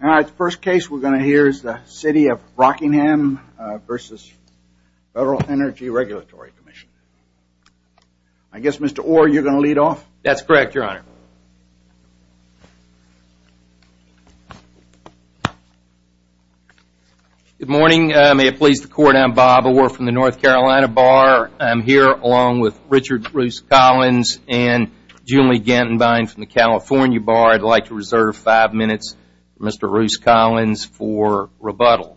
The first case we are going to hear is the City of Rockingham v. Federal Energy Regulatory Commission. I guess, Mr. Orr, you are going to lead off? That's correct, Your Honor. Good morning. May it please the Court, I'm Bob Orr from the North Carolina Bar. I'm here along with Richard Bruce Collins and Julie Gantenbein from the California Bar. I'd like to reserve five minutes for Mr. Bruce Collins for rebuttal.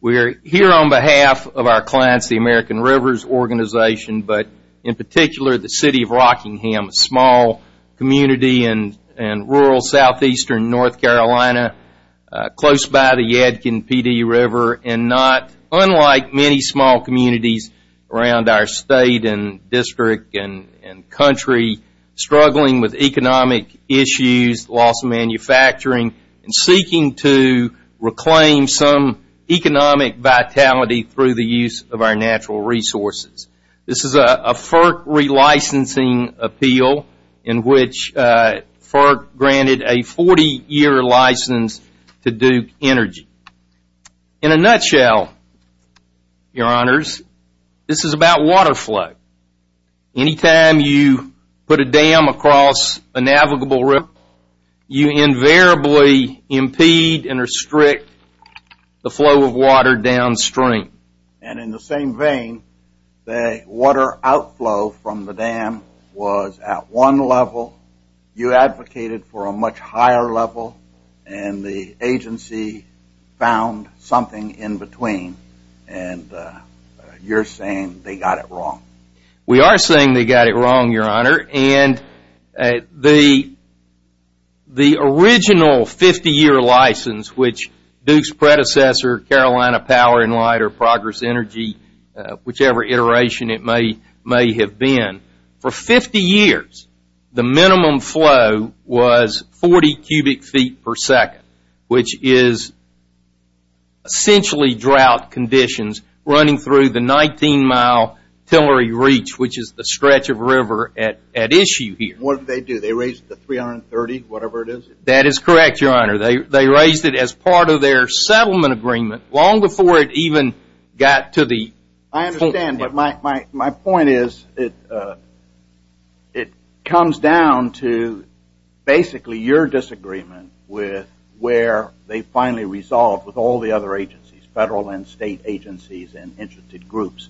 We are here on behalf of our clients, the American Rivers Organization, but in particular the City of Rockingham, a small community in rural southeastern North Carolina, close by the Yadkin Pee Dee River, and not unlike many small communities around our state and economic issues, loss of manufacturing, and seeking to reclaim some economic vitality through the use of our natural resources. This is a FERC relicensing appeal in which FERC granted a 40-year license to Duke Energy. In a nutshell, Your Honors, this is about water flow. Anytime you put a dam across a navigable river, you invariably impede and restrict the flow of water downstream. And in the same vein, the water outflow from the dam was at one level, you advocated for a much higher level, and the agency found something in between, and you're saying they got it wrong. We are saying they got it wrong, Your Honor, and the original 50-year license, which Duke's predecessor, Carolina Power & Light or Progress Energy, whichever iteration it may have been, for 50 years, the minimum flow was 40 cubic feet per second, which is essentially drought conditions running through the 19-mile Tillery Reach, which is the stretch of river at issue here. What did they do? They raised the 330, whatever it is? That is correct, Your Honor. They raised it as part of their settlement agreement long before it even got to the point. I understand, but my point is it comes down to basically your disagreement with where they finally resolved with all the other agencies, federal and state agencies and interested groups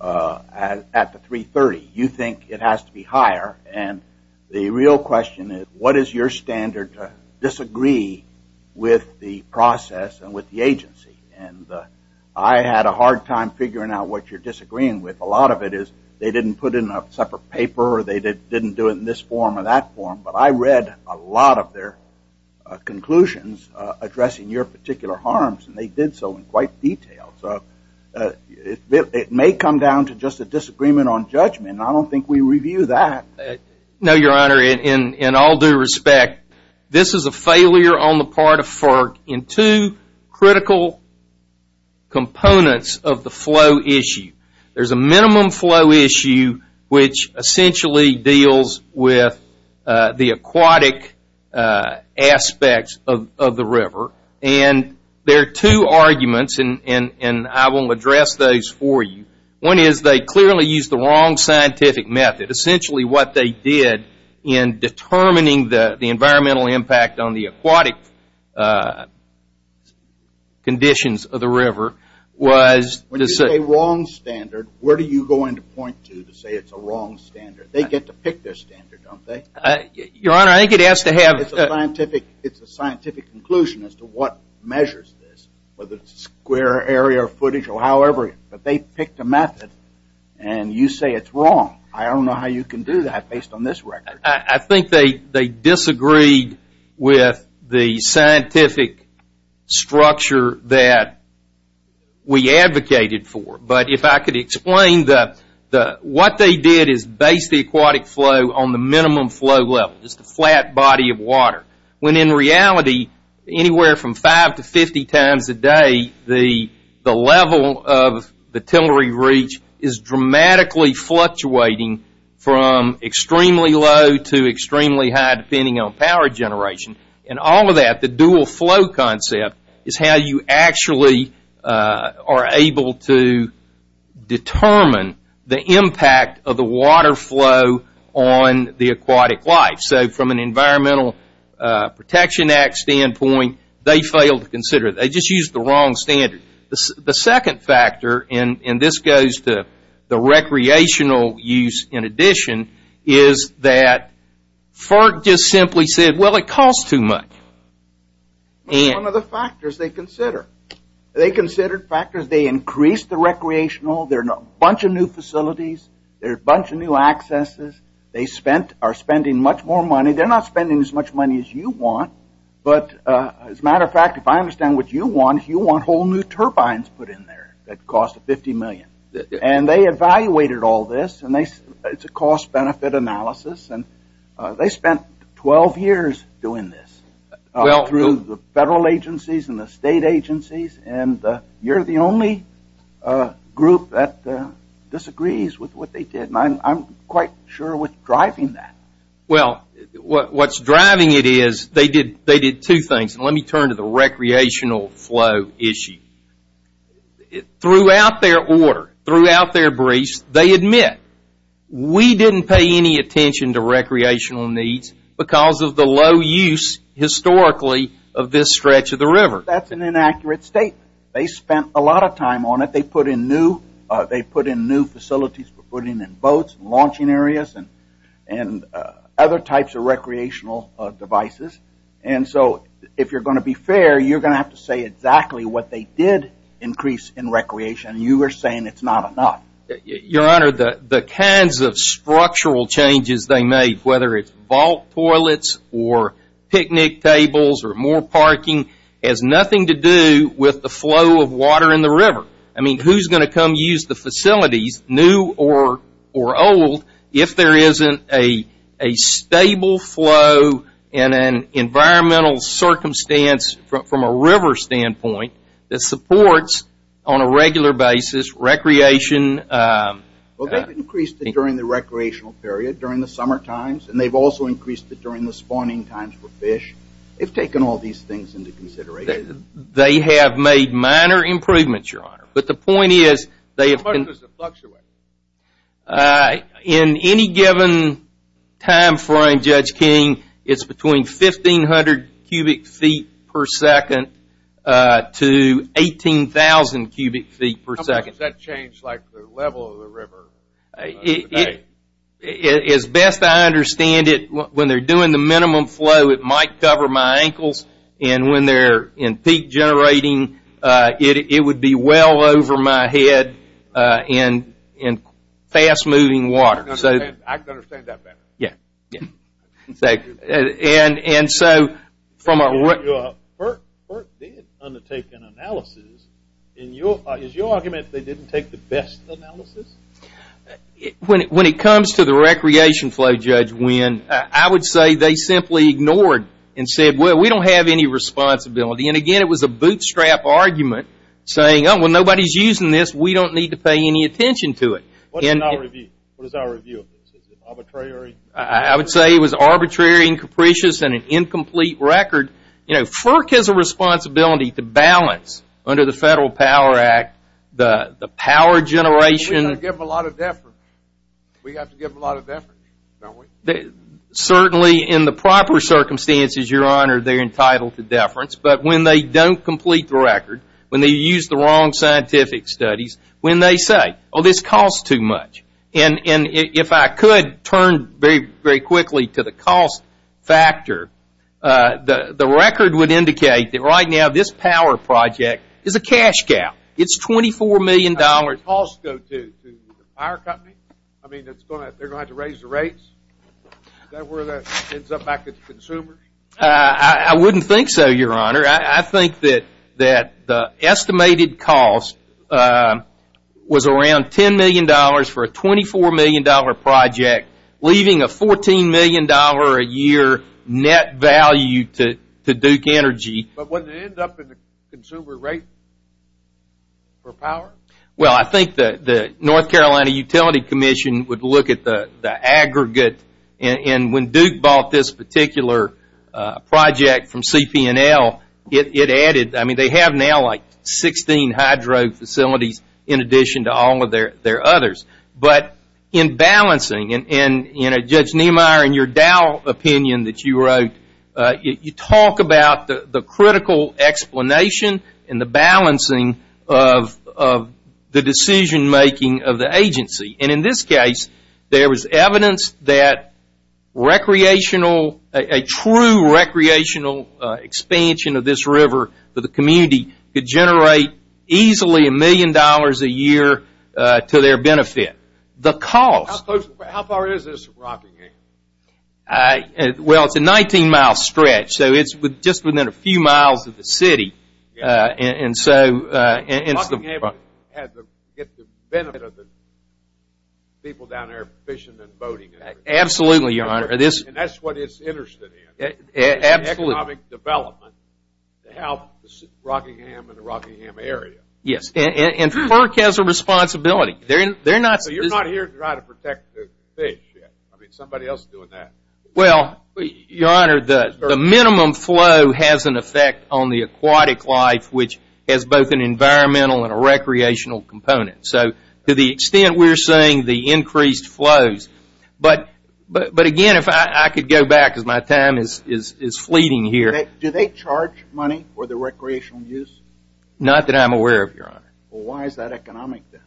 at the 330. You think it has to be higher, and the real question is what is your standard to disagree with the process and with the agency? I had a hard time figuring out what you're disagreeing with. A lot of it is they didn't put in a separate paper, or they didn't do it in this form or that form, but I read a lot of their conclusions addressing your particular harms, and they did so in quite detail. It may come down to just a disagreement on judgment, and I don't think we review that. No, Your Honor. In all due respect, this is a failure on the part of FERC in two critical components of the flow issue. There is a minimum flow issue which essentially deals with the aquatic aspects of the river, and there are two arguments, and I will address those for you. One is they clearly used the wrong scientific method. Essentially, what they did in determining the environmental impact on the aquatic conditions of the river was to say... When you say wrong standard, where do you go into point to to say it's a wrong standard? They get to pick their standard, don't they? Your Honor, I think it has to have... It's a scientific conclusion as to what measures this, whether it's square area or footage or however, but they picked a method, and you say it's wrong. I don't know how you can do that based on this record. I think they disagreed with the scientific structure that we advocated for, but if I could explain what they did is base the aquatic flow on the minimum flow level, just a flat body of water, when in reality, anywhere from 5 to 50 times a day, the level of the tillery reach is dramatically fluctuating from extremely low to extremely high depending on power generation, and all of that, the dual flow concept is how you actually are able to determine the impact of the water flow on the aquatic life. From an Environmental Protection Act standpoint, they failed to consider it. They just used the wrong standard. The second factor, and this goes to the recreational use in addition, is that FERC just simply said, well, it costs too much. One of the factors they considered. They considered factors, they increased the recreational, there are a bunch of new facilities, there are a bunch of new accesses, they are spending much more money. They are not spending as much money as you want, but as a matter of fact, if I understand what you want, you want whole new turbines put in there that cost $50 million. They evaluated all this and it's a cost-benefit analysis and they spent 12 years doing this through the federal agencies and the state agencies and you are the only group that disagrees with what they did. I'm quite sure with driving that. Well, what's driving it is they did two things. Let me turn to the recreational flow issue. Throughout their order, throughout their briefs, they admit, we didn't pay any attention to recreational needs because of the low use historically of this stretch of the river. That's an inaccurate statement. They spent a lot of time on it. They put in new facilities for putting in boats, launching areas and other types of recreational devices. And so if you are going to be fair, you are going to have to say exactly what they did increase in recreation. You are saying it's not enough. Your Honor, the kinds of structural changes they made, whether it's vault toilets or picnic tables or more parking has nothing to do with the flow of water in the river. I mean, who's going to come use the facilities, new or old, if there isn't a stable flow and an environmental circumstance from a river standpoint that supports on a regular basis recreation. Well, they've increased it during the recreational period during the summer times and they've also increased it during the spawning times for fish. They've taken all of these things into consideration. They have made minor improvements, Your Honor. But the point is, they have been... How much does it fluctuate? In any given time frame, Judge King, it's between 1,500 cubic feet per second to 18,000 cubic feet per second. How much does that change like the level of the river? As best I understand it, when they are doing the minimum flow, it might cover my ankles and when they are in peak generating, it would be well over my head in fast-moving water. I can understand that better. Yeah. Thank you. And so, from a... FERC did undertake an analysis. In your argument, they didn't take the best analysis? When it comes to the recreation flow, Judge Wynn, I would say they simply ignored and said, well, we don't have any responsibility. And again, it was a bootstrap argument saying, oh, well, nobody's using this. We don't need to pay any attention to it. What is our review of this? Is it arbitrary? I would say it was arbitrary and capricious and an incomplete record. You know, FERC has a responsibility to balance under the Federal Power Act the power generation... We have to give them a lot of deference. We have to give them a lot of deference, don't we? Certainly, in the proper circumstances, Your Honor, they are entitled to deference. But when they don't complete the record, when they use the wrong scientific studies, when they say, oh, this costs too much. And if I could turn very, very quickly to the cost factor, the record would indicate that right now this power project is a cash gap. It's $24 million... How does the cost go to the power company? I mean, they're going to have to raise the rates? Is that where that ends up back at the consumers? I wouldn't think so, Your Honor. I think that the estimated cost was around $10 million for a $24 million project, leaving a $14 million a year net value to Duke Energy. But would it end up in the consumer rate for power? Well, I think the North Carolina Utility Commission would look at the aggregate. And when Duke bought this particular project from CPNL, it added... But in balancing, and Judge Niemeyer, in your Dow opinion that you wrote, you talk about the critical explanation and the balancing of the decision-making of the agency. And in this case, there was evidence that a true recreational expansion of this river for the community could generate easily $1 million a year to their benefit. The cost... How far is this from Rockingham? Well, it's a 19-mile stretch, so it's just within a few miles of the city. And so... And Rockingham had to get the benefit of the people down there fishing and boating. Absolutely, Your Honor. And that's what it's interested in. Economic development to help Rockingham and the Rockingham area. Yes, and FERC has a responsibility. They're not... So you're not here to try to protect the fish yet. I mean, somebody else is doing that. Well, Your Honor, the minimum flow has an effect on the aquatic life, which has both an environmental and a recreational component. So to the extent we're seeing the increased flows... But again, if I could go back because my time is fleeting here. Do they charge money for the recreational use? Not that I'm aware of, Your Honor. Well, why is that economic then?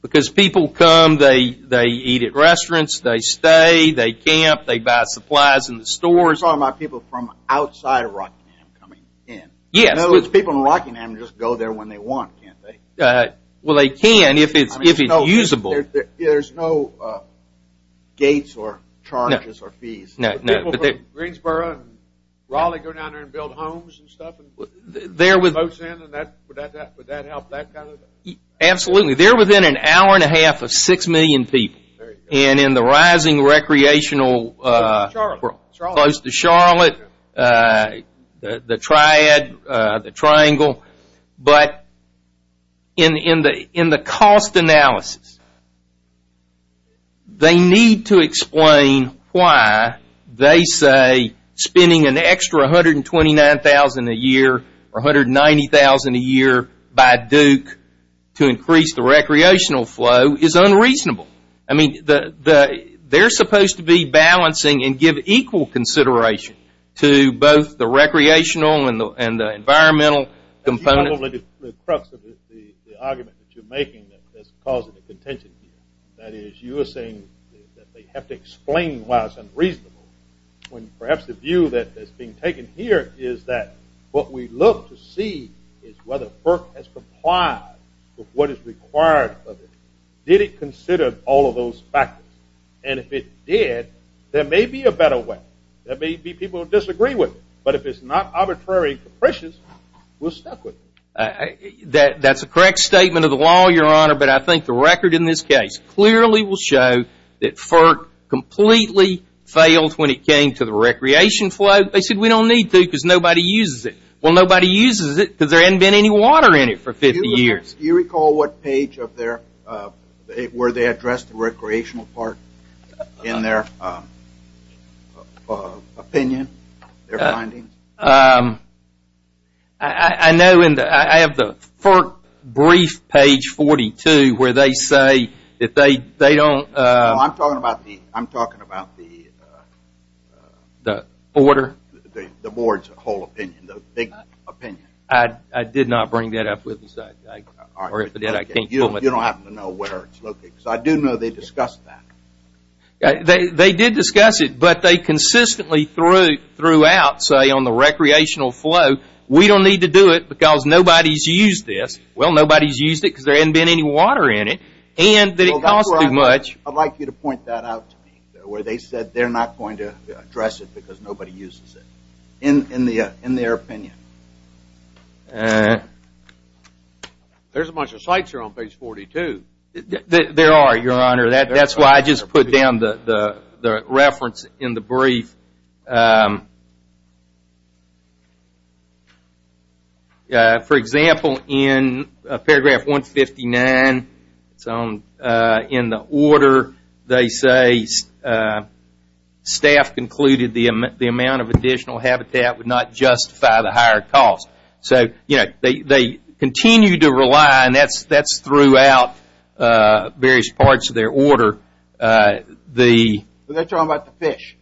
Because people come, they eat at restaurants, they stay, they camp, they buy supplies in the stores. I'm talking about people from outside of Rockingham coming in. Yes. You know, those people in Rockingham just go there when they want, can't they? Well, they can if it's usable. There's no gates or charges or fees. No. People from Greensboro and Raleigh go down there and build homes and stuff? They're within... Would that help that kind of... Absolutely. They're within an hour and a half of six million people. And in the rising recreational... Charlotte. Close to Charlotte, the Triad, the Triangle. But in the cost analysis, they need to explain why they say spending an extra $129,000 a year or $190,000 a year by Duke to increase the recreational flow is unreasonable. I mean, they're supposed to be balancing and give equal consideration to both the recreational and the environmental components. That's probably the crux of the argument that you're making that's causing the contention here. That is, you are saying that they have to explain why it's unreasonable when perhaps the view that's being taken here is that what we look to see is whether FERC has complied with what is required of it. Did it consider all of those factors? And if it did, there may be a better way. There may be people who disagree with it. But if it's not arbitrary and capricious, we're stuck with it. That's a correct statement of the law, Your Honor, but I think the record in this case clearly will show that FERC completely failed when it came to the recreation flow. They said, we don't need to because nobody uses it. Well, nobody uses it because there hasn't been any water in it for 50 years. Do you recall what page of their... opinion, their findings? I have the FERC brief, page 42, where they say that they don't... I'm talking about the... Order? The board's whole opinion, the big opinion. I did not bring that up with us. You don't have to know where it's located because I do know they discussed that. They did discuss it, but they consistently threw out, say, on the recreational flow, we don't need to do it because nobody's used this. Well, nobody's used it because there hasn't been any water in it, and that it costs too much. I'd like you to point that out to me, where they said they're not going to address it because nobody uses it, in their opinion. There's a bunch of sites here on page 42. There are, Your Honor. That's why I just put down the reference in the brief. For example, in paragraph 159, it's in the order they say staff concluded the amount of additional habitat would not justify the higher cost. They continue to rely, and that's throughout various parts of their order. They're talking about the fish.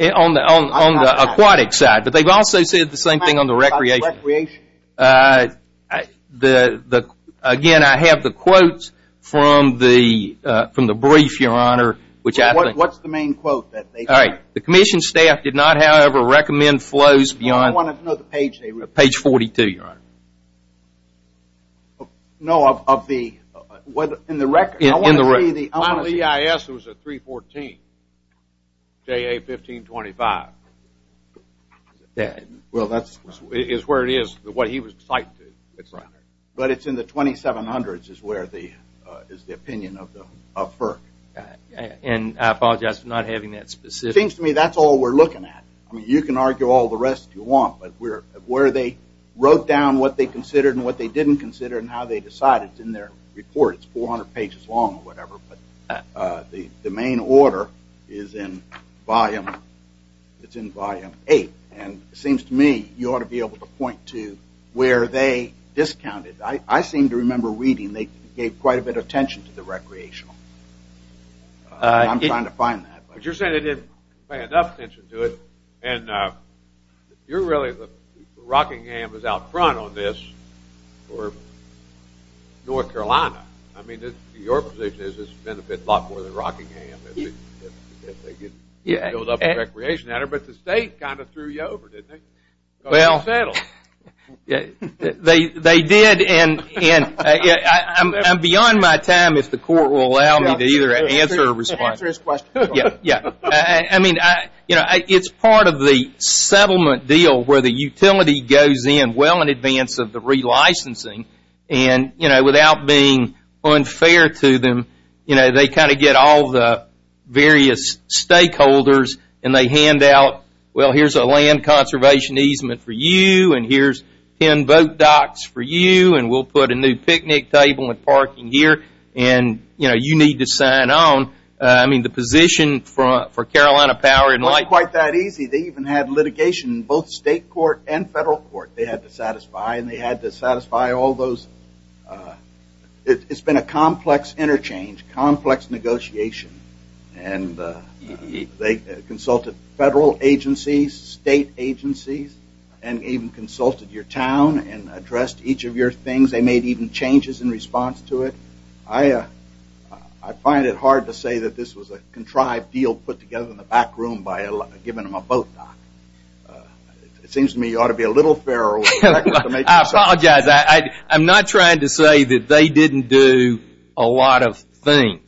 On the aquatic side. But they've also said the same thing on the recreation. Again, I have the quotes from the brief, Your Honor. What's the main quote? The commission staff did not, however, recommend flows beyond... Page 42, Your Honor. No, in the record. The EIS was at 314, JA 1525. Well, that's... It's where it is, what he was citing. But it's in the 2700s is the opinion of FERC. And I apologize for not having that specific... It seems to me that's all we're looking at. You can argue all the rest you want. But where they wrote down what they considered and what they didn't consider and how they decided, it's in their report. It's 400 pages long or whatever. The main order is in volume 8. And it seems to me you ought to be able to point to where they discounted. I seem to remember reading they gave quite a bit of attention to the recreational. I'm trying to find that. But you're saying they didn't pay enough attention to it. And you're really the... Rockingham is out front on this for North Carolina. I mean, your position is it's a benefit a lot more than Rockingham. But the state kind of threw you over, didn't it? Well, they did. And I'm beyond my time if the court will allow me to either answer or respond. I mean, it's part of the settlement deal where the utility goes in well in advance of the relicensing. And without being unfair to them, they kind of get all the various stakeholders and they hand out, well, here's a land conservation easement for you. And here's 10 boat docks for you. And we'll put a new picnic table and parking here. And you need to sign on. I mean, the position for Carolina Power... It wasn't quite that easy. They even had litigation in both state court and federal court. They had to satisfy and they had to satisfy all those... It's been a complex interchange, complex negotiation. They consulted federal agencies, state agencies, and even consulted your town and addressed each of your things. They made even changes in response to it. I find it hard to say that this was a contrived deal put together in the back room by giving them a boat dock. It seems to me you ought to be a little fairer... I apologize. I'm not trying to say that they didn't do a lot of things.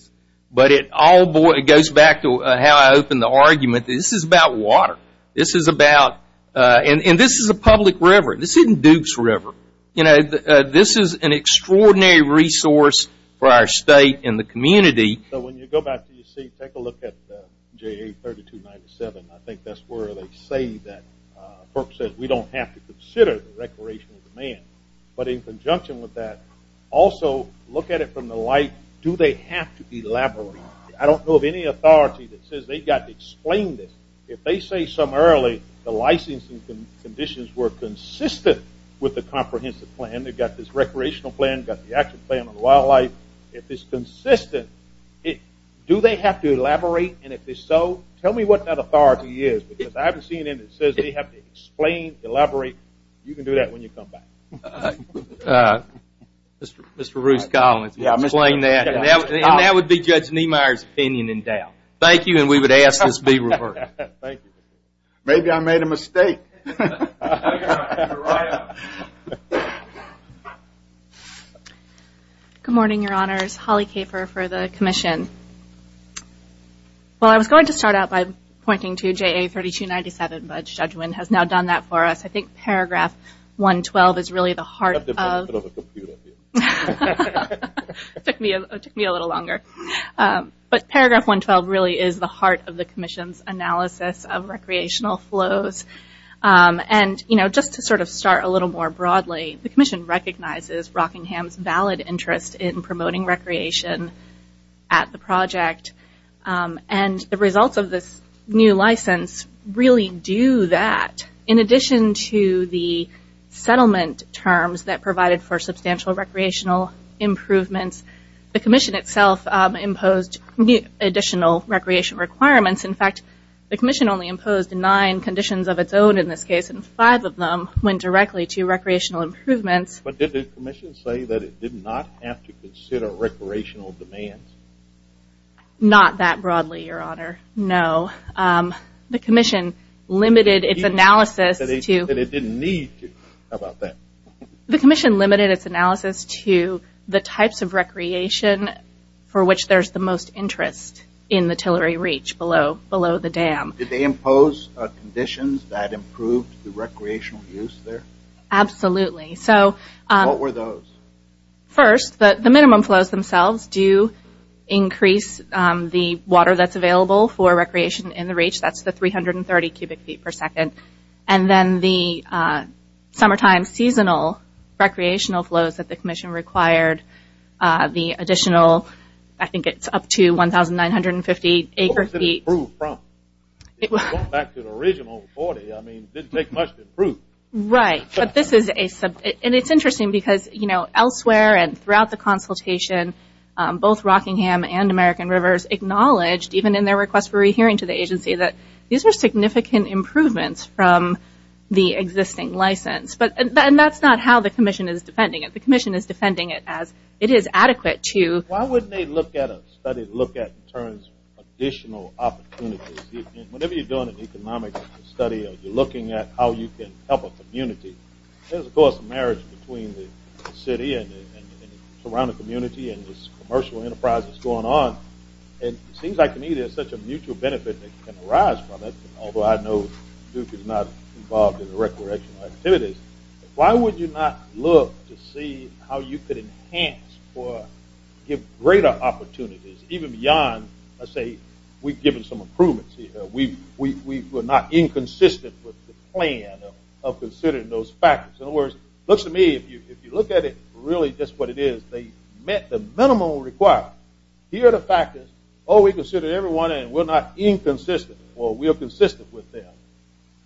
But it all goes back to how I opened the argument. This is about water. This is about... And this is a public river. This isn't Duke's River. This is an extraordinary resource for our state and the community. So when you go back to your seat, take a look at JA 3297. I think that's where they say that... FERC says we don't have to consider the recreational demand. But in conjunction with that, also look at it from the light, do they have to elaborate? I don't know of any authority that says they've got to explain this. If they say summarily the licensing conditions were consistent with the comprehensive plan, they've got this recreational plan, they've got the action plan on the wildlife, if it's consistent, do they have to elaborate? And if so, tell me what that authority is. Because I haven't seen anything that says they have to explain, elaborate. You can do that when you come back. Mr. Ruth Collins will explain that. And that would be Judge Niemeyer's opinion in doubt. Thank you, and we would ask this be reversed. Maybe I made a mistake. You're on. Good morning, Your Honors. Holly Kafer for the Commission. Well, I was going to start out by pointing to JA 3297, but Judge Wynn has now done that for us. I think paragraph 112 is really the heart of... I've got the benefit of a computer here. It took me a little longer. But paragraph 112 really is the heart of the Commission's analysis of recreational flows. And just to sort of start a little more broadly, the Commission recognizes Rockingham's valid interest in promoting recreation at the project. And the results of this new license really do that. In addition to the settlement terms that provided for substantial recreational improvements, the Commission itself imposed additional recreation requirements. In fact, the Commission only imposed nine conditions of its own in this case, and five of them went directly to recreational improvements. But did the Commission say that it did not have to consider recreational demands? Not that broadly, Your Honor, no. The Commission limited its analysis to... But it didn't need to. How about that? The Commission limited its analysis to the types of recreation for which there's the most interest in the Tillery Reach below the dam. Did they impose conditions that improved the recreational use there? Absolutely. What were those? First, the minimum flows themselves do increase the water that's available for recreation in the Reach. That's the 330 cubic feet per second. And then the summertime seasonal recreational flows that the Commission required, the additional... I think it's up to 1,950 acre feet. Where was it improved from? Going back to the original 40, I mean, it didn't take much to improve. Right, but this is a... And it's interesting because, you know, elsewhere and throughout the consultation, both Rockingham and American Rivers acknowledged, even in their request for rehearing to the agency, that these were significant improvements from the existing license. And that's not how the Commission is defending it. The Commission is defending it as it is adequate to... Why wouldn't they look at a study to look at in terms of additional opportunities? Whenever you're doing an economic study or you're looking at how you can help a community, there's, of course, a marriage between the city and the surrounding community and this commercial enterprise that's going on. And it seems like to me there's such a mutual benefit that can arise from it, although I know Duke is not involved in the recreational activities. Why would you not look to see how you could enhance or give greater opportunities even beyond, let's say, we've given some improvements? We were not inconsistent with the plan of considering those factors. In other words, it looks to me if you look at it really just what it is, they met the minimum required. Here are the factors. Oh, we considered everyone and we're not inconsistent. Well, we are consistent with them.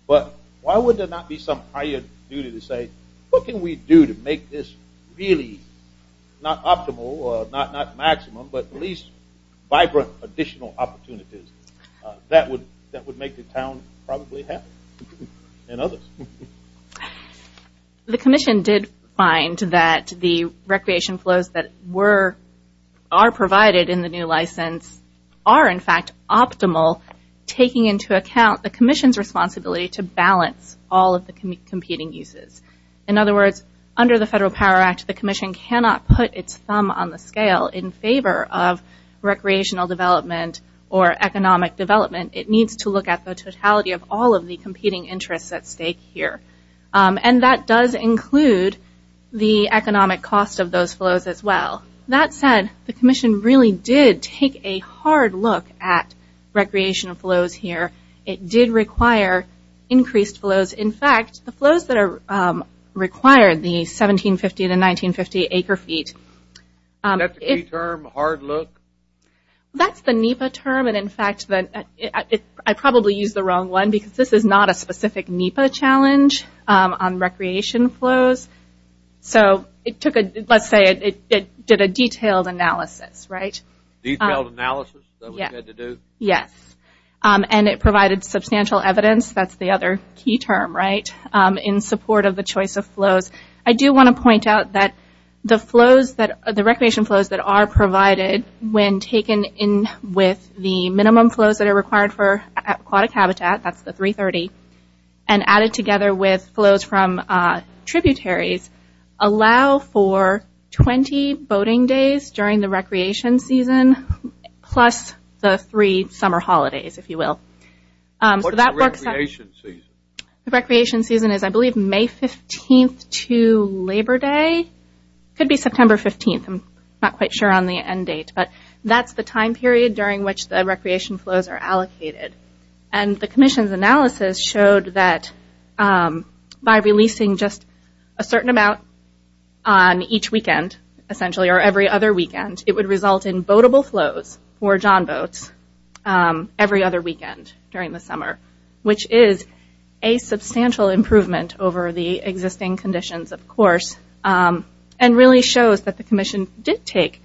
But why would there not be some higher duty to say, what can we do to make this really not optimal or not maximum but at least vibrant additional opportunities? That would make the town probably happy and others. The Commission did find that the recreation flows that are provided in the new license are, in fact, optimal taking into account the Commission's responsibility to balance all of the competing uses. In other words, under the Federal Power Act, the Commission cannot put its thumb on the scale in favor of recreational development or economic development. It needs to look at the totality of all of the competing interests at stake here. And that does include the economic cost of those flows as well. That said, the Commission really did take a hard look at recreational flows here. It did require increased flows. In fact, the flows that are required, the 1750 to 1950 acre feet. Is that the key term, hard look? That's the NEPA term. In fact, I probably used the wrong one because this is not a specific NEPA challenge on recreation flows. So let's say it did a detailed analysis, right? Detailed analysis that we had to do? Yes. And it provided substantial evidence. That's the other key term, right? In support of the choice of flows. I do want to point out that the recreation flows that are provided when taken in with the minimum flows that are required for aquatic habitat, that's the 330, and added together with flows from tributaries, allow for 20 boating days during the recreation season, plus the three summer holidays, if you will. What's the recreation season? The recreation season is, I believe, May 15th to Labor Day. Could be September 15th. I'm not quite sure on the end date. But that's the time period during which the recreation flows are allocated. And the commission's analysis showed that by releasing just a certain amount on each weekend, essentially, or every other weekend, it would result in boatable flows for John Boats every other weekend during the summer, which is a substantial improvement over the existing conditions, of course, and really shows that the commission did take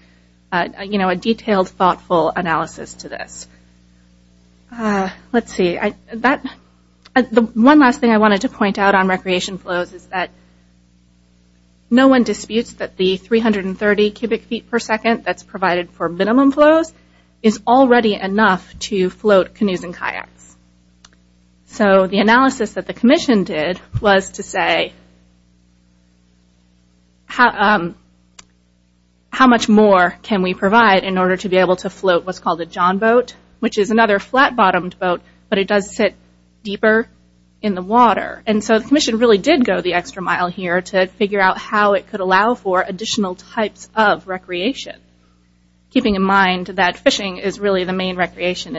a detailed, thoughtful analysis to this. Let's see. The one last thing I wanted to point out on recreation flows is that no one disputes that the 330 cubic feet per second that's provided for minimum flows is already enough to float canoes and kayaks. So the analysis that the commission did was to say, how much more can we provide in order to be able to float what's called a John Boat, which is another flat-bottomed boat, but it does sit deeper in the water. And so the commission really did go the extra mile here to figure out how it could allow for additional types of recreation, keeping in mind that fishing is really the main recreation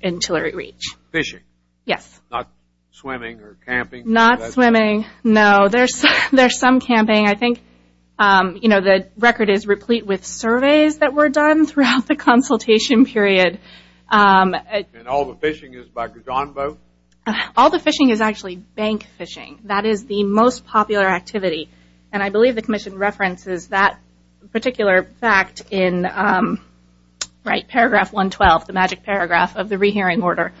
in Tillery Reach. Fishing? Yes. Not swimming or camping? Not swimming. No, there's some camping. I think the record is replete with surveys that were done throughout the consultation period. And all the fishing is by John Boat? All the fishing is actually bank fishing. That is the most popular activity. And I believe the commission references that particular fact in Paragraph 112, the magic paragraph of the rehearing order.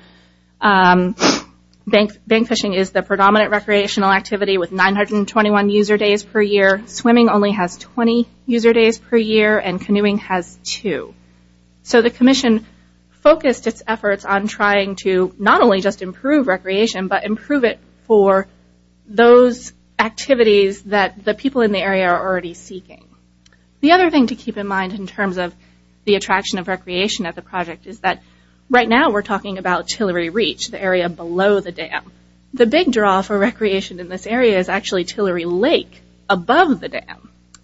Bank fishing is the predominant recreational activity with 921 user days per year. Swimming only has 20 user days per year, and canoeing has two. So the commission focused its efforts on trying to not only just improve recreation, but improve it for those activities that the people in the area are already seeking. The other thing to keep in mind in terms of the attraction of recreation at the project is that right now we're talking about Tillery Reach, the area below the dam. The big draw for recreation in this area is actually Tillery Lake above the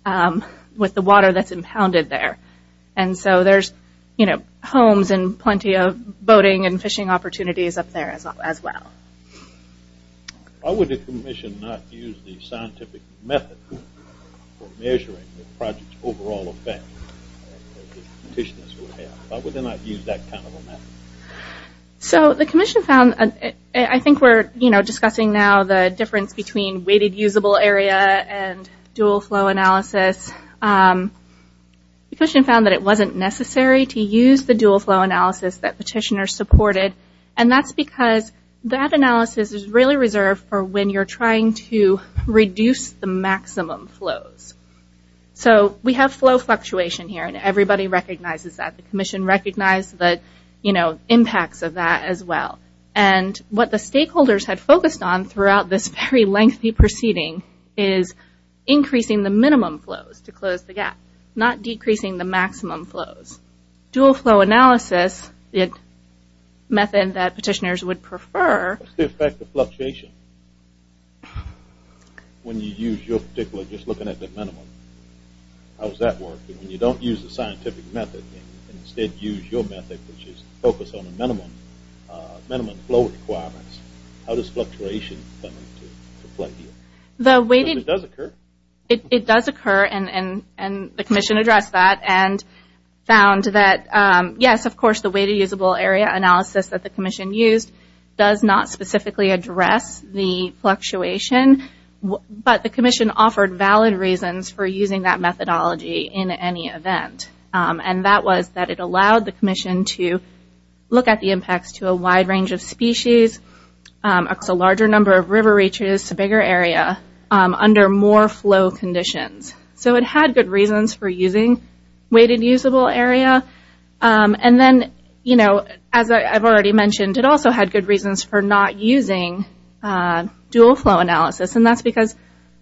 dam with the water that's impounded there. And so there's homes and plenty of boating and fishing opportunities up there as well. Why would the commission not use the scientific method for measuring the project's overall effect? Why would they not use that kind of a method? So the commission found... I think we're discussing now the difference between weighted usable area and dual flow analysis. The commission found that it wasn't necessary to use the dual flow analysis that petitioners supported, and that's because that analysis is really reserved for when you're trying to reduce the maximum flows. So we have flow fluctuation here, and everybody recognizes that. The commission recognized the impacts of that as well. And what the stakeholders had focused on throughout this very lengthy proceeding is increasing the minimum flows to close the gap, not decreasing the maximum flows. Dual flow analysis, a method that petitioners would prefer... What's the effect of fluctuation when you use your particular, just looking at the minimum? How does that work? When you don't use the scientific method and instead use your method, which is focused on the minimum flow requirements, how does fluctuation affect you? It does occur. It does occur, and the commission addressed that and found that, yes, of course, the weighted usable area analysis that the commission used does not specifically address the fluctuation, but the commission offered valid reasons for using that methodology in any event. And that was that it allowed the commission to look at the impacts to a wide range of species, a larger number of river reaches, a bigger area, under more flow conditions. So it had good reasons for using weighted usable area. And then, as I've already mentioned, it also had good reasons for not using dual flow analysis, and that's because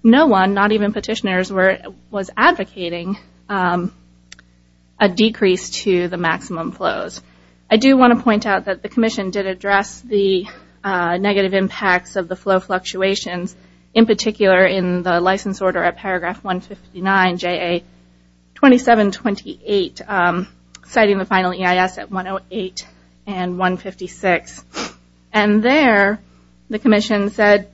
no one, not even petitioners, was advocating a decrease to the maximum flows. I do want to point out that the commission did address the negative impacts of the flow fluctuations, in particular in the license order at paragraph 159, JA 2728, citing the final EIS at 108 and 156. And there, the commission said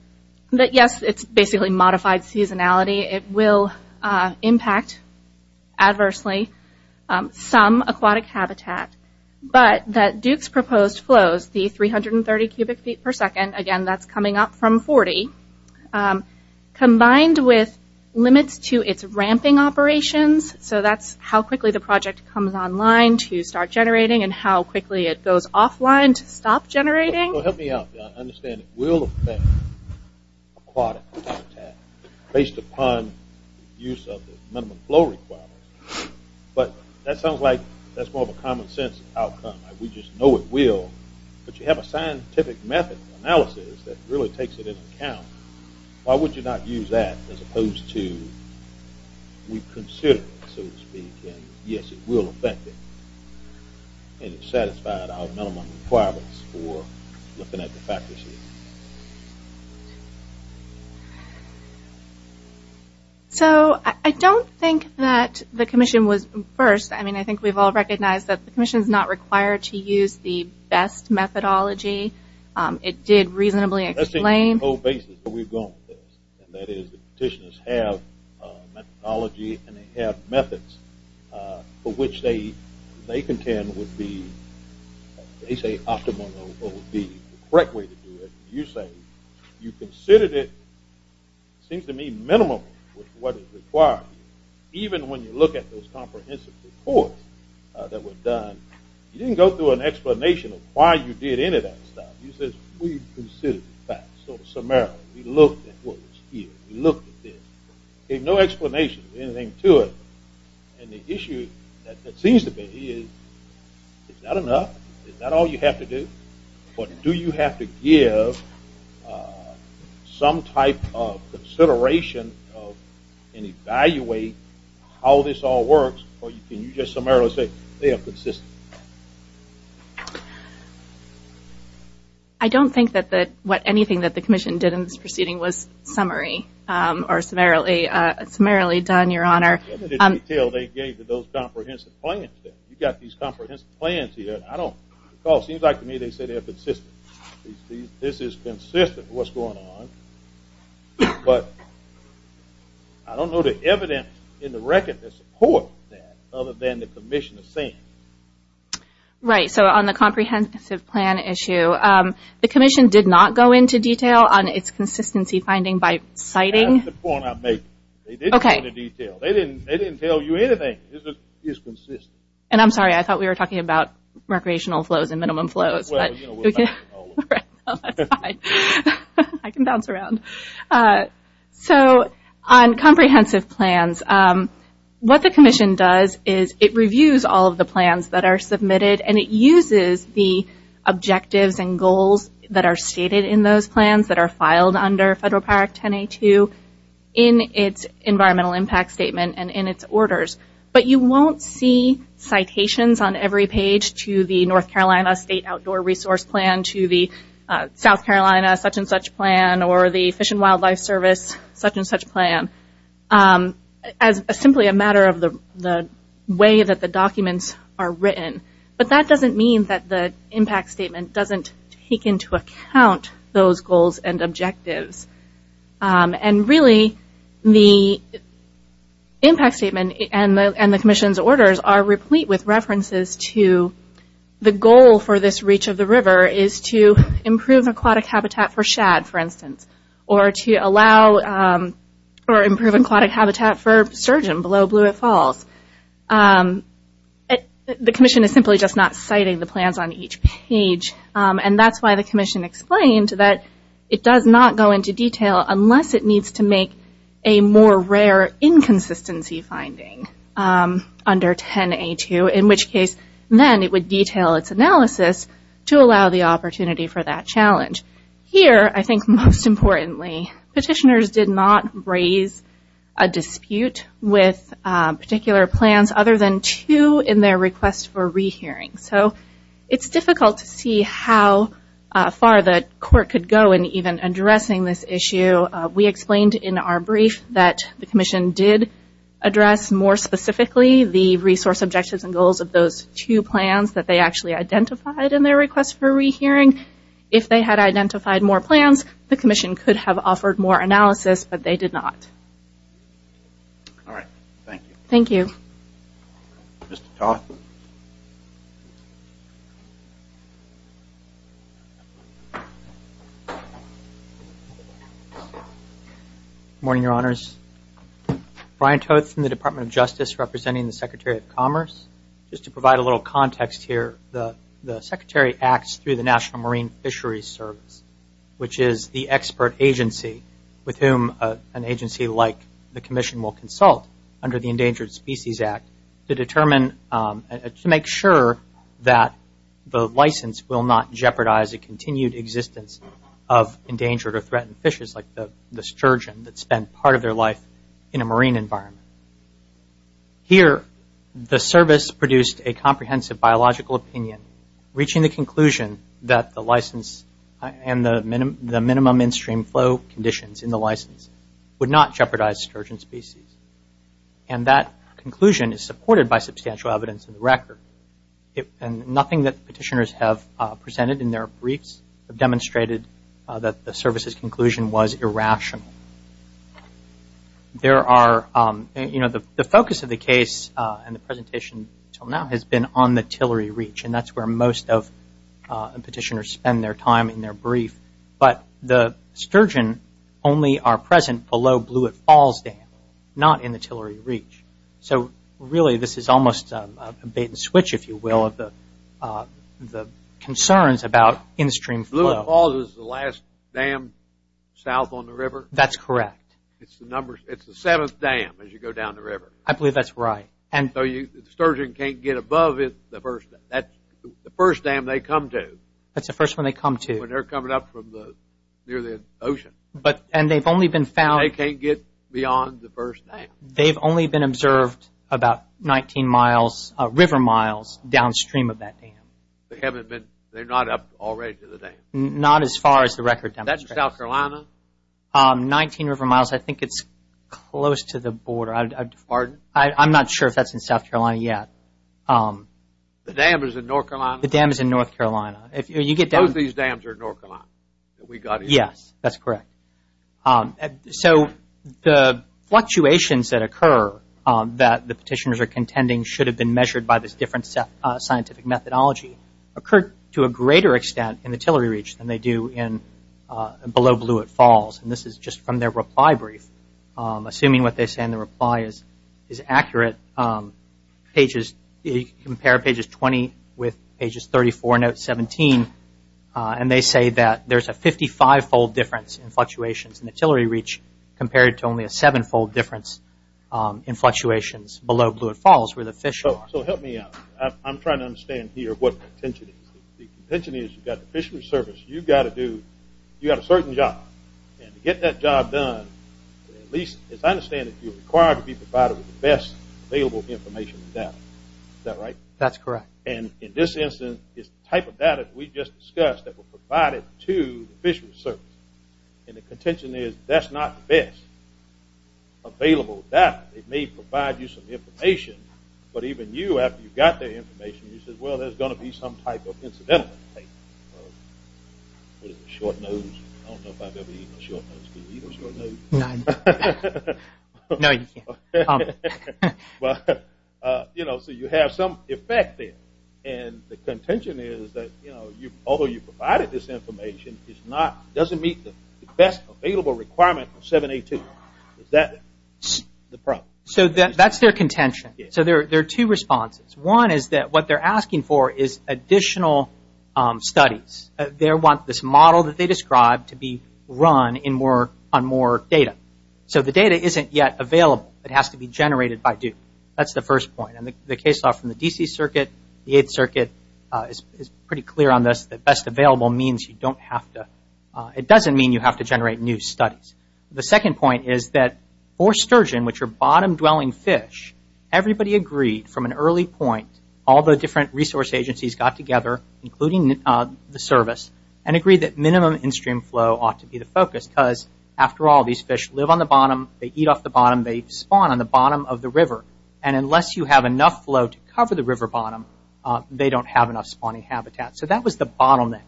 that, yes, it's basically modified seasonality. It will impact adversely some aquatic habitat, but that Duke's proposed flows, the 330 cubic feet per second, again, that's coming up from 40, combined with limits to its ramping operations, so that's how quickly the project comes online to start generating and how quickly it goes offline to stop generating. So help me out. I understand it will affect aquatic habitat based upon use of the minimum flow requirements, but that sounds like that's more of a common sense outcome. We just know it will. But you have a scientific method analysis that really takes it into account. Why would you not use that as opposed to we consider it, so to speak, and yes, it will affect it. And it satisfied our minimum requirements for looking at the practices. So I don't think that the commission was first. I mean, I think we've all recognized that the commission is not required to use the best methodology. It did reasonably explain. And that is the petitioners have methodology and they have methods for which they contend would be, they say optimal would be the correct way to do it. You say you considered it, seems to me, minimal with what is required. Even when you look at those comprehensive reports that were done, you didn't go through an explanation of why you did any of that stuff. You said we considered the facts. So summarily, we looked at what was here. We looked at this. There's no explanation or anything to it. And the issue that seems to be is, is that enough? Is that all you have to do? Or do you have to give some type of consideration and evaluate how this all works? Or can you just summarily say they are consistent? I don't think that anything that the commission did in this proceeding was summary or summarily done, your honor. Let me tell you what they gave to those comprehensive plans. You've got these comprehensive plans here. It seems like to me they said they're consistent. This is consistent with what's going on. But I don't know the evidence in the record that supports that other than the commission is saying. Right, so on the comprehensive plan issue, the commission did not go into detail on its consistency finding by citing. That's the point I'm making. They didn't go into detail. They didn't tell you anything is consistent. And I'm sorry, I thought we were talking about recreational flows and minimum flows. That's fine. I can bounce around. So on comprehensive plans, what the commission does is it reviews all of the plans that are submitted. And it uses the objectives and goals that are stated in those plans that are filed under Federal Power Act 1082 in its environmental impact statement and in its orders. But you won't see citations on every page to the North Carolina State Outdoor Resource Plan, to the South Carolina such and such plan, or the Fish and Wildlife Service such and such plan. As simply a matter of the way that the documents are written. But that doesn't mean that the impact statement doesn't take into account those goals and objectives. And really, the impact statement and the commission's orders are replete with references to the goal for this reach of the river is to improve aquatic habitat for shad, for instance. Or to allow or improve aquatic habitat for sturgeon below Blewett Falls. The commission is simply just not citing the plans on each page. And that's why the commission explained that it does not go into detail unless it needs to make a more rare inconsistency finding under 1082. In which case, then it would detail its analysis to allow the opportunity for that challenge. Here, I think most importantly, petitioners did not raise a dispute with particular plans other than two in their request for rehearing. It's difficult to see how far the court could go in even addressing this issue. We explained in our brief that the commission did address more specifically the resource objectives and goals of those two plans that they actually identified in their request for rehearing. If they had identified more plans, the commission could have offered more analysis, but they did not. All right. Thank you. Thank you. Mr. Toth. Good morning, Your Honors. Brian Toth from the Department of Justice, representing the Secretary of Commerce. Just to provide a little context here, the Secretary acts through the National Marine Fisheries Service, which is the expert agency with whom an agency like the commission will consult under the Endangered Species Act to determine, to make sure that the license will not jeopardize a continued existence of endangered or threatened fishes like the sturgeon that spend part of their life in a marine environment. Here, the service produced a comprehensive biological opinion reaching the conclusion that the license and the minimum in-stream flow conditions in the license would not jeopardize sturgeon species. That conclusion is supported by substantial evidence in the record. Nothing that petitioners have presented in their briefs have demonstrated that the service's conclusion was irrational. The focus of the case and the presentation until now has been on the tillery reach. And that's where most of the petitioners spend their time in their brief. But the sturgeon only are present below Blewett Falls Dam, not in the tillery reach. So really, this is almost a bait and switch, if you will, of the concerns about in-stream flow. Blewett Falls is the last dam south on the river? That's correct. It's the seventh dam as you go down the river. I believe that's right. The sturgeon can't get above the first dam they come to. That's the first one they come to. When they're coming up from near the ocean. And they've only been found- They can't get beyond the first dam. They've only been observed about 19 river miles downstream of that dam. They're not up already to the dam? Not as far as the record demonstrates. That's South Carolina? 19 river miles. I think it's close to the border. Pardon? I'm not sure if that's in South Carolina yet. The dam is in North Carolina? The dam is in North Carolina. Both these dams are in North Carolina that we got here. Yes, that's correct. So the fluctuations that occur that the petitioners are contending should have been measured by this different scientific methodology occurred to a greater extent in the tillery reach than they do below Blewett Falls. And this is just from their reply brief. Assuming what they say in the reply is accurate, compare pages 20 with pages 34 and 17, and they say that there's a 55-fold difference in fluctuations in the tillery reach compared to only a 7-fold difference in fluctuations below Blewett Falls where the fish are. So help me out. I'm trying to understand here what the contention is. The contention is you've got the Fisheries Service. You've got to do- You've got a certain job. And to get that job done, at least as I understand it, you're required to be provided with the best available information and data. Is that right? That's correct. And in this instance, it's the type of data that we just discussed that were provided to the Fisheries Service. And the contention is that's not the best available data. They may provide you some information, but even you, after you've got their information, you say, well, there's going to be some type of incidental. What is it, a short nose? I don't know if I've ever eaten a short nose. Can you eat a short nose? No. No, you can't. Well, you know, so you have some effect there. And the contention is that although you provided this information, it doesn't meet the best available requirement for 7A2. Is that the problem? So that's their contention. So there are two responses. One is that what they're asking for is additional studies. They want this model that they described to be run on more data. So the data isn't yet available. It has to be generated by Duke. That's the first point. And the case law from the D.C. Circuit, the Eighth Circuit, is pretty clear on this, that best available means you don't have to – it doesn't mean you have to generate new studies. The second point is that for sturgeon, which are bottom-dwelling fish, everybody agreed from an early point, all the different resource agencies got together, including the service, and agreed that minimum in-stream flow ought to be the focus because, after all, these fish live on the bottom. They eat off the bottom. They spawn on the bottom of the river. And unless you have enough flow to cover the river bottom, they don't have enough spawning habitat. So that was the bottleneck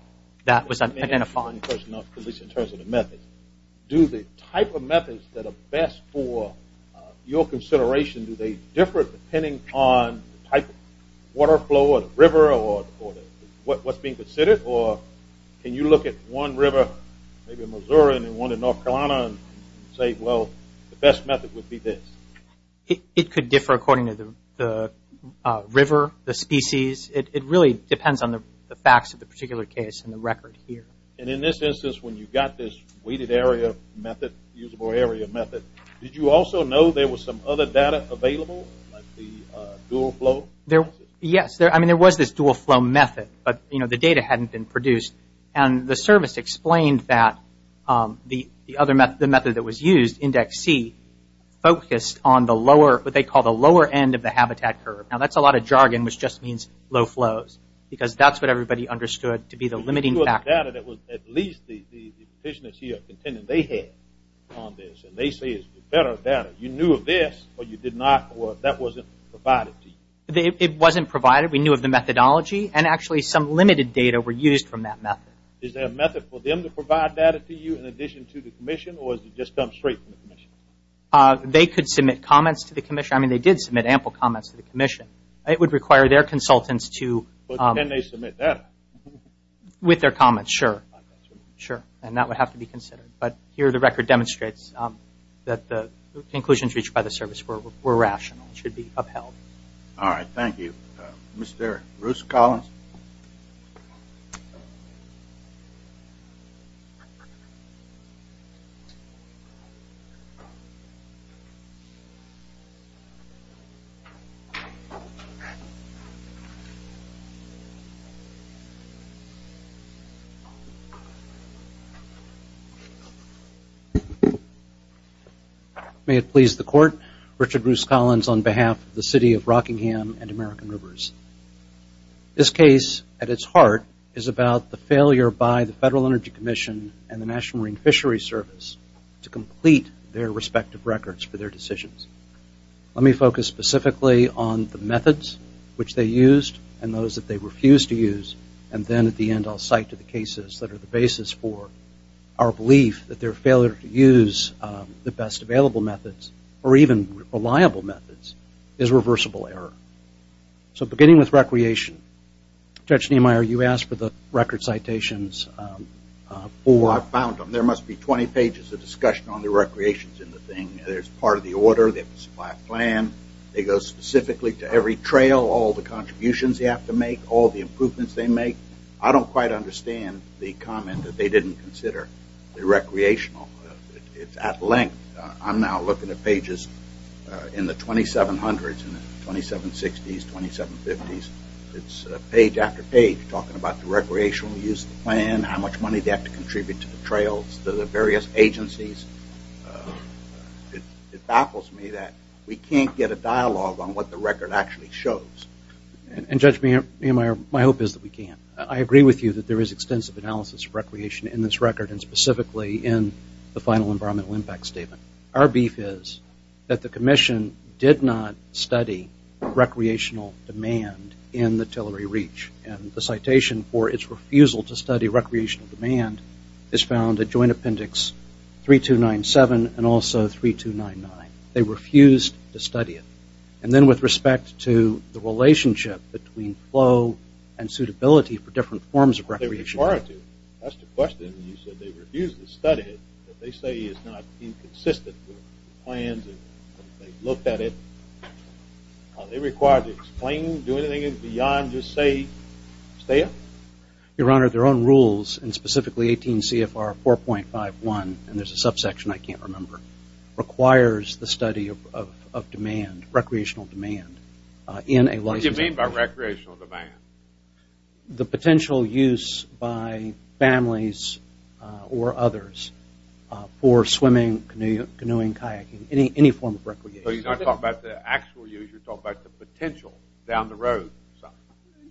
that was identified. Let me ask you one question, at least in terms of the methods. Do the type of methods that are best for your consideration, do they differ depending on the type of water flow or the river or what's being considered? Or can you look at one river, maybe Missouri, and one in North Carolina, and say, well, the best method would be this? It could differ according to the river, the species. It really depends on the facts of the particular case and the record here. And in this instance, when you got this weighted area method, usable area method, did you also know there was some other data available, like the dual flow? Yes. I mean, there was this dual flow method, but, you know, the data hadn't been produced. And the service explained that the other method, the method that was used, Index C, focused on the lower, what they call the lower end of the habitat curve. Now, that's a lot of jargon, which just means low flows, because that's what everybody understood to be the limiting factor. The data that was at least the petitioners here contended they had on this, and they say it's better data. You knew of this, or you did not, or that wasn't provided to you? It wasn't provided. We knew of the methodology, and actually some limited data were used from that method. Is there a method for them to provide data to you in addition to the commission, or has it just come straight from the commission? They could submit comments to the commission. I mean, they did submit ample comments to the commission. It would require their consultants to – But can they submit data? With their comments, sure. Sure, and that would have to be considered. But here the record demonstrates that the conclusions reached by the service were rational. It should be upheld. All right, thank you. Mr. Bruce Collins? Thank you. May it please the Court, Richard Bruce Collins on behalf of the City of Rockingham and American Rivers. This case at its heart is about the failure by the Federal Energy Commission and the National Marine Fisheries Service to complete their respective records for their decisions. Let me focus specifically on the methods which they used and those that they refused to use, and then at the end I'll cite to the cases that are the basis for our belief that their failure to use the best available methods, or even reliable methods, is reversible error. So beginning with recreation, Judge Niemeyer, you asked for the record citations. I found them. There must be 20 pages of discussion on the recreations in the thing. There's part of the order, they have to supply a plan, they go specifically to every trail, all the contributions they have to make, all the improvements they make. I don't quite understand the comment that they didn't consider the recreational. It's at length. I'm now looking at pages in the 2700s and 2760s, 2750s. I don't understand how much money they have to contribute to the trails, to the various agencies. It baffles me that we can't get a dialogue on what the record actually shows. And, Judge Niemeyer, my hope is that we can. I agree with you that there is extensive analysis of recreation in this record and specifically in the final environmental impact statement. Our beef is that the commission did not study recreational demand in the Tillery Reach, and the citation for its refusal to study recreational demand is found at Joint Appendix 3297 and also 3299. They refused to study it. And then with respect to the relationship between flow and suitability for different forms of recreation. They were required to. That's the question. You said they refused to study it. They say it's not inconsistent with plans and they looked at it. Are they required to explain, do anything beyond just say, stay out? Your Honor, their own rules, and specifically 18 CFR 4.51, and there's a subsection I can't remember, requires the study of demand, recreational demand. What do you mean by recreational demand? The potential use by families or others for swimming, canoeing, kayaking, any form of recreation. So you're not talking about the actual use. You're talking about the potential down the road.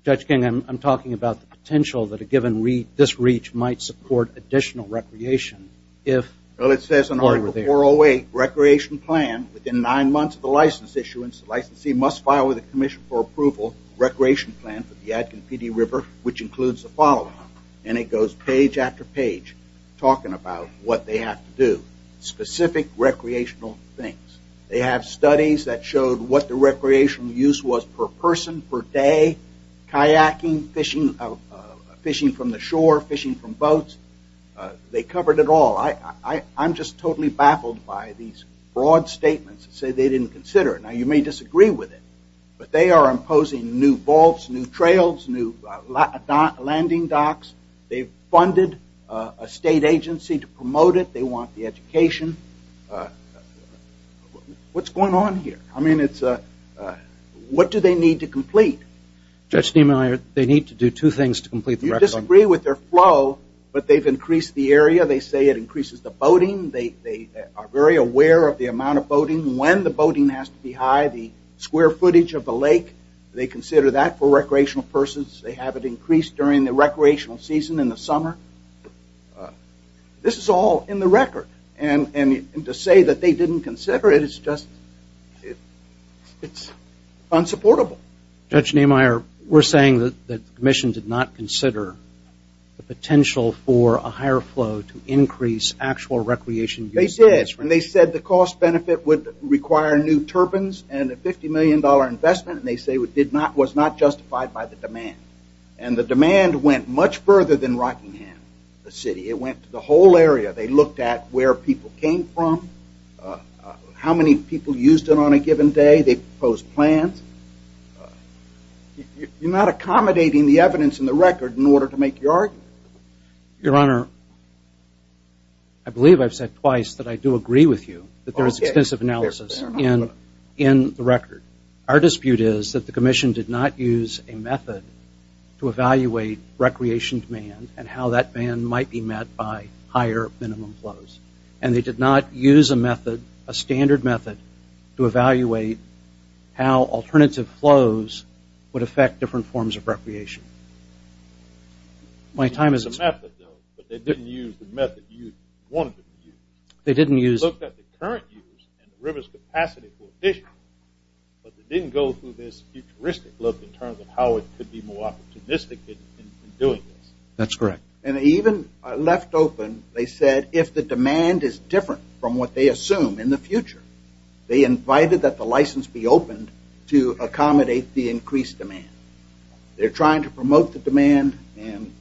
Judge King, I'm talking about the potential that a given reach, this reach might support additional recreation. Well, it says in Article 408, recreation plan within nine months of the license issuance, the licensee must file with the commission for approval, recreation plan for the Adkin Pee Dee River, which includes the following. And it goes page after page talking about what they have to do, specific recreational things. They have studies that showed what the recreational use was per person, per day, kayaking, fishing from the shore, fishing from boats. They covered it all. I'm just totally baffled by these broad statements that say they didn't consider it. Now, you may disagree with it, but they are imposing new vaults, new trails, new landing docks. They've funded a state agency to promote it. They want the education. What's going on here? I mean, what do they need to complete? Judge Niemeyer, they need to do two things to complete the record. You disagree with their flow, but they've increased the area. They say it increases the boating. They are very aware of the amount of boating, when the boating has to be high, the square footage of the lake. They consider that for recreational persons. They have it increased during the recreational season in the summer. This is all in the record. And to say that they didn't consider it, it's just unsupportable. Judge Niemeyer, we're saying that the commission did not consider the potential for a higher flow to increase actual recreation. They said the cost benefit would require new turbines and a $50 million investment, and they say it was not justified by the demand. And the demand went much further than Rockingham, the city. It went to the whole area. They looked at where people came from, how many people used it on a given day. They proposed plans. You're not accommodating the evidence in the record in order to make your argument. Your Honor, I believe I've said twice that I do agree with you that there is extensive analysis in the record. Our dispute is that the commission did not use a method to evaluate recreation demand and how that demand might be met by higher minimum flows. And they did not use a method, a standard method, to evaluate how alternative flows would affect different forms of recreation. My time is up. But they didn't use the method you wanted them to use. They didn't use it. They looked at the current use and the river's capacity for fishing, but they didn't go through this futuristic look in terms of how it could be more opportunistic in doing this. That's correct. And even left open, they said if the demand is different from what they assume in the future, they invited that the license be opened to accommodate the increased demand. They're trying to promote the demand, and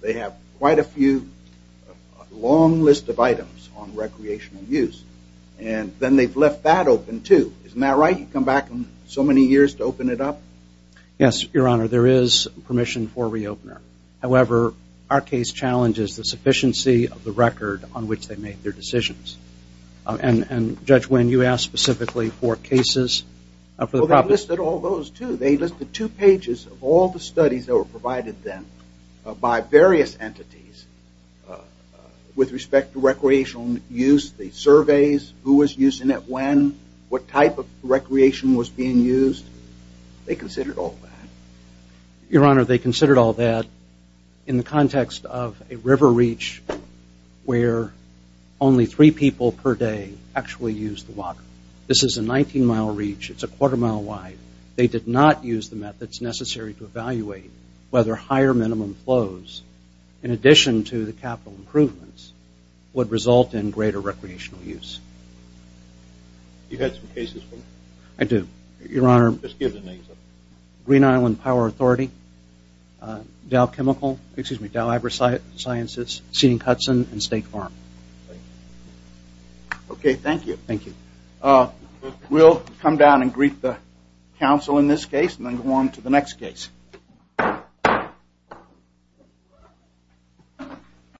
they have quite a few long list of items on recreational use. And then they've left that open, too. Isn't that right? You come back so many years to open it up? Yes, Your Honor. There is permission for a reopener. However, our case challenges the sufficiency of the record on which they made their decisions. And, Judge Wynn, you asked specifically for cases. Well, they listed all those, too. They listed two pages of all the studies that were provided then by various entities with respect to recreational use, the surveys, who was using it when, what type of recreation was being used. They considered all that. Your Honor, they considered all that in the context of a river reach where only three people per day actually used the water. This is a 19-mile reach. It's a quarter mile wide. They did not use the methods necessary to evaluate whether higher minimum flows, in addition to the capital improvements, would result in greater recreational use. You had some cases, Wynn? I do. Your Honor. Just give the names. Green Island Power Authority, Dow Chemical, excuse me, Dow Agricultural Sciences, Seeding Hudson, and State Farm. Okay, thank you. Thank you. We'll come down and greet the counsel in this case and then go on to the next case.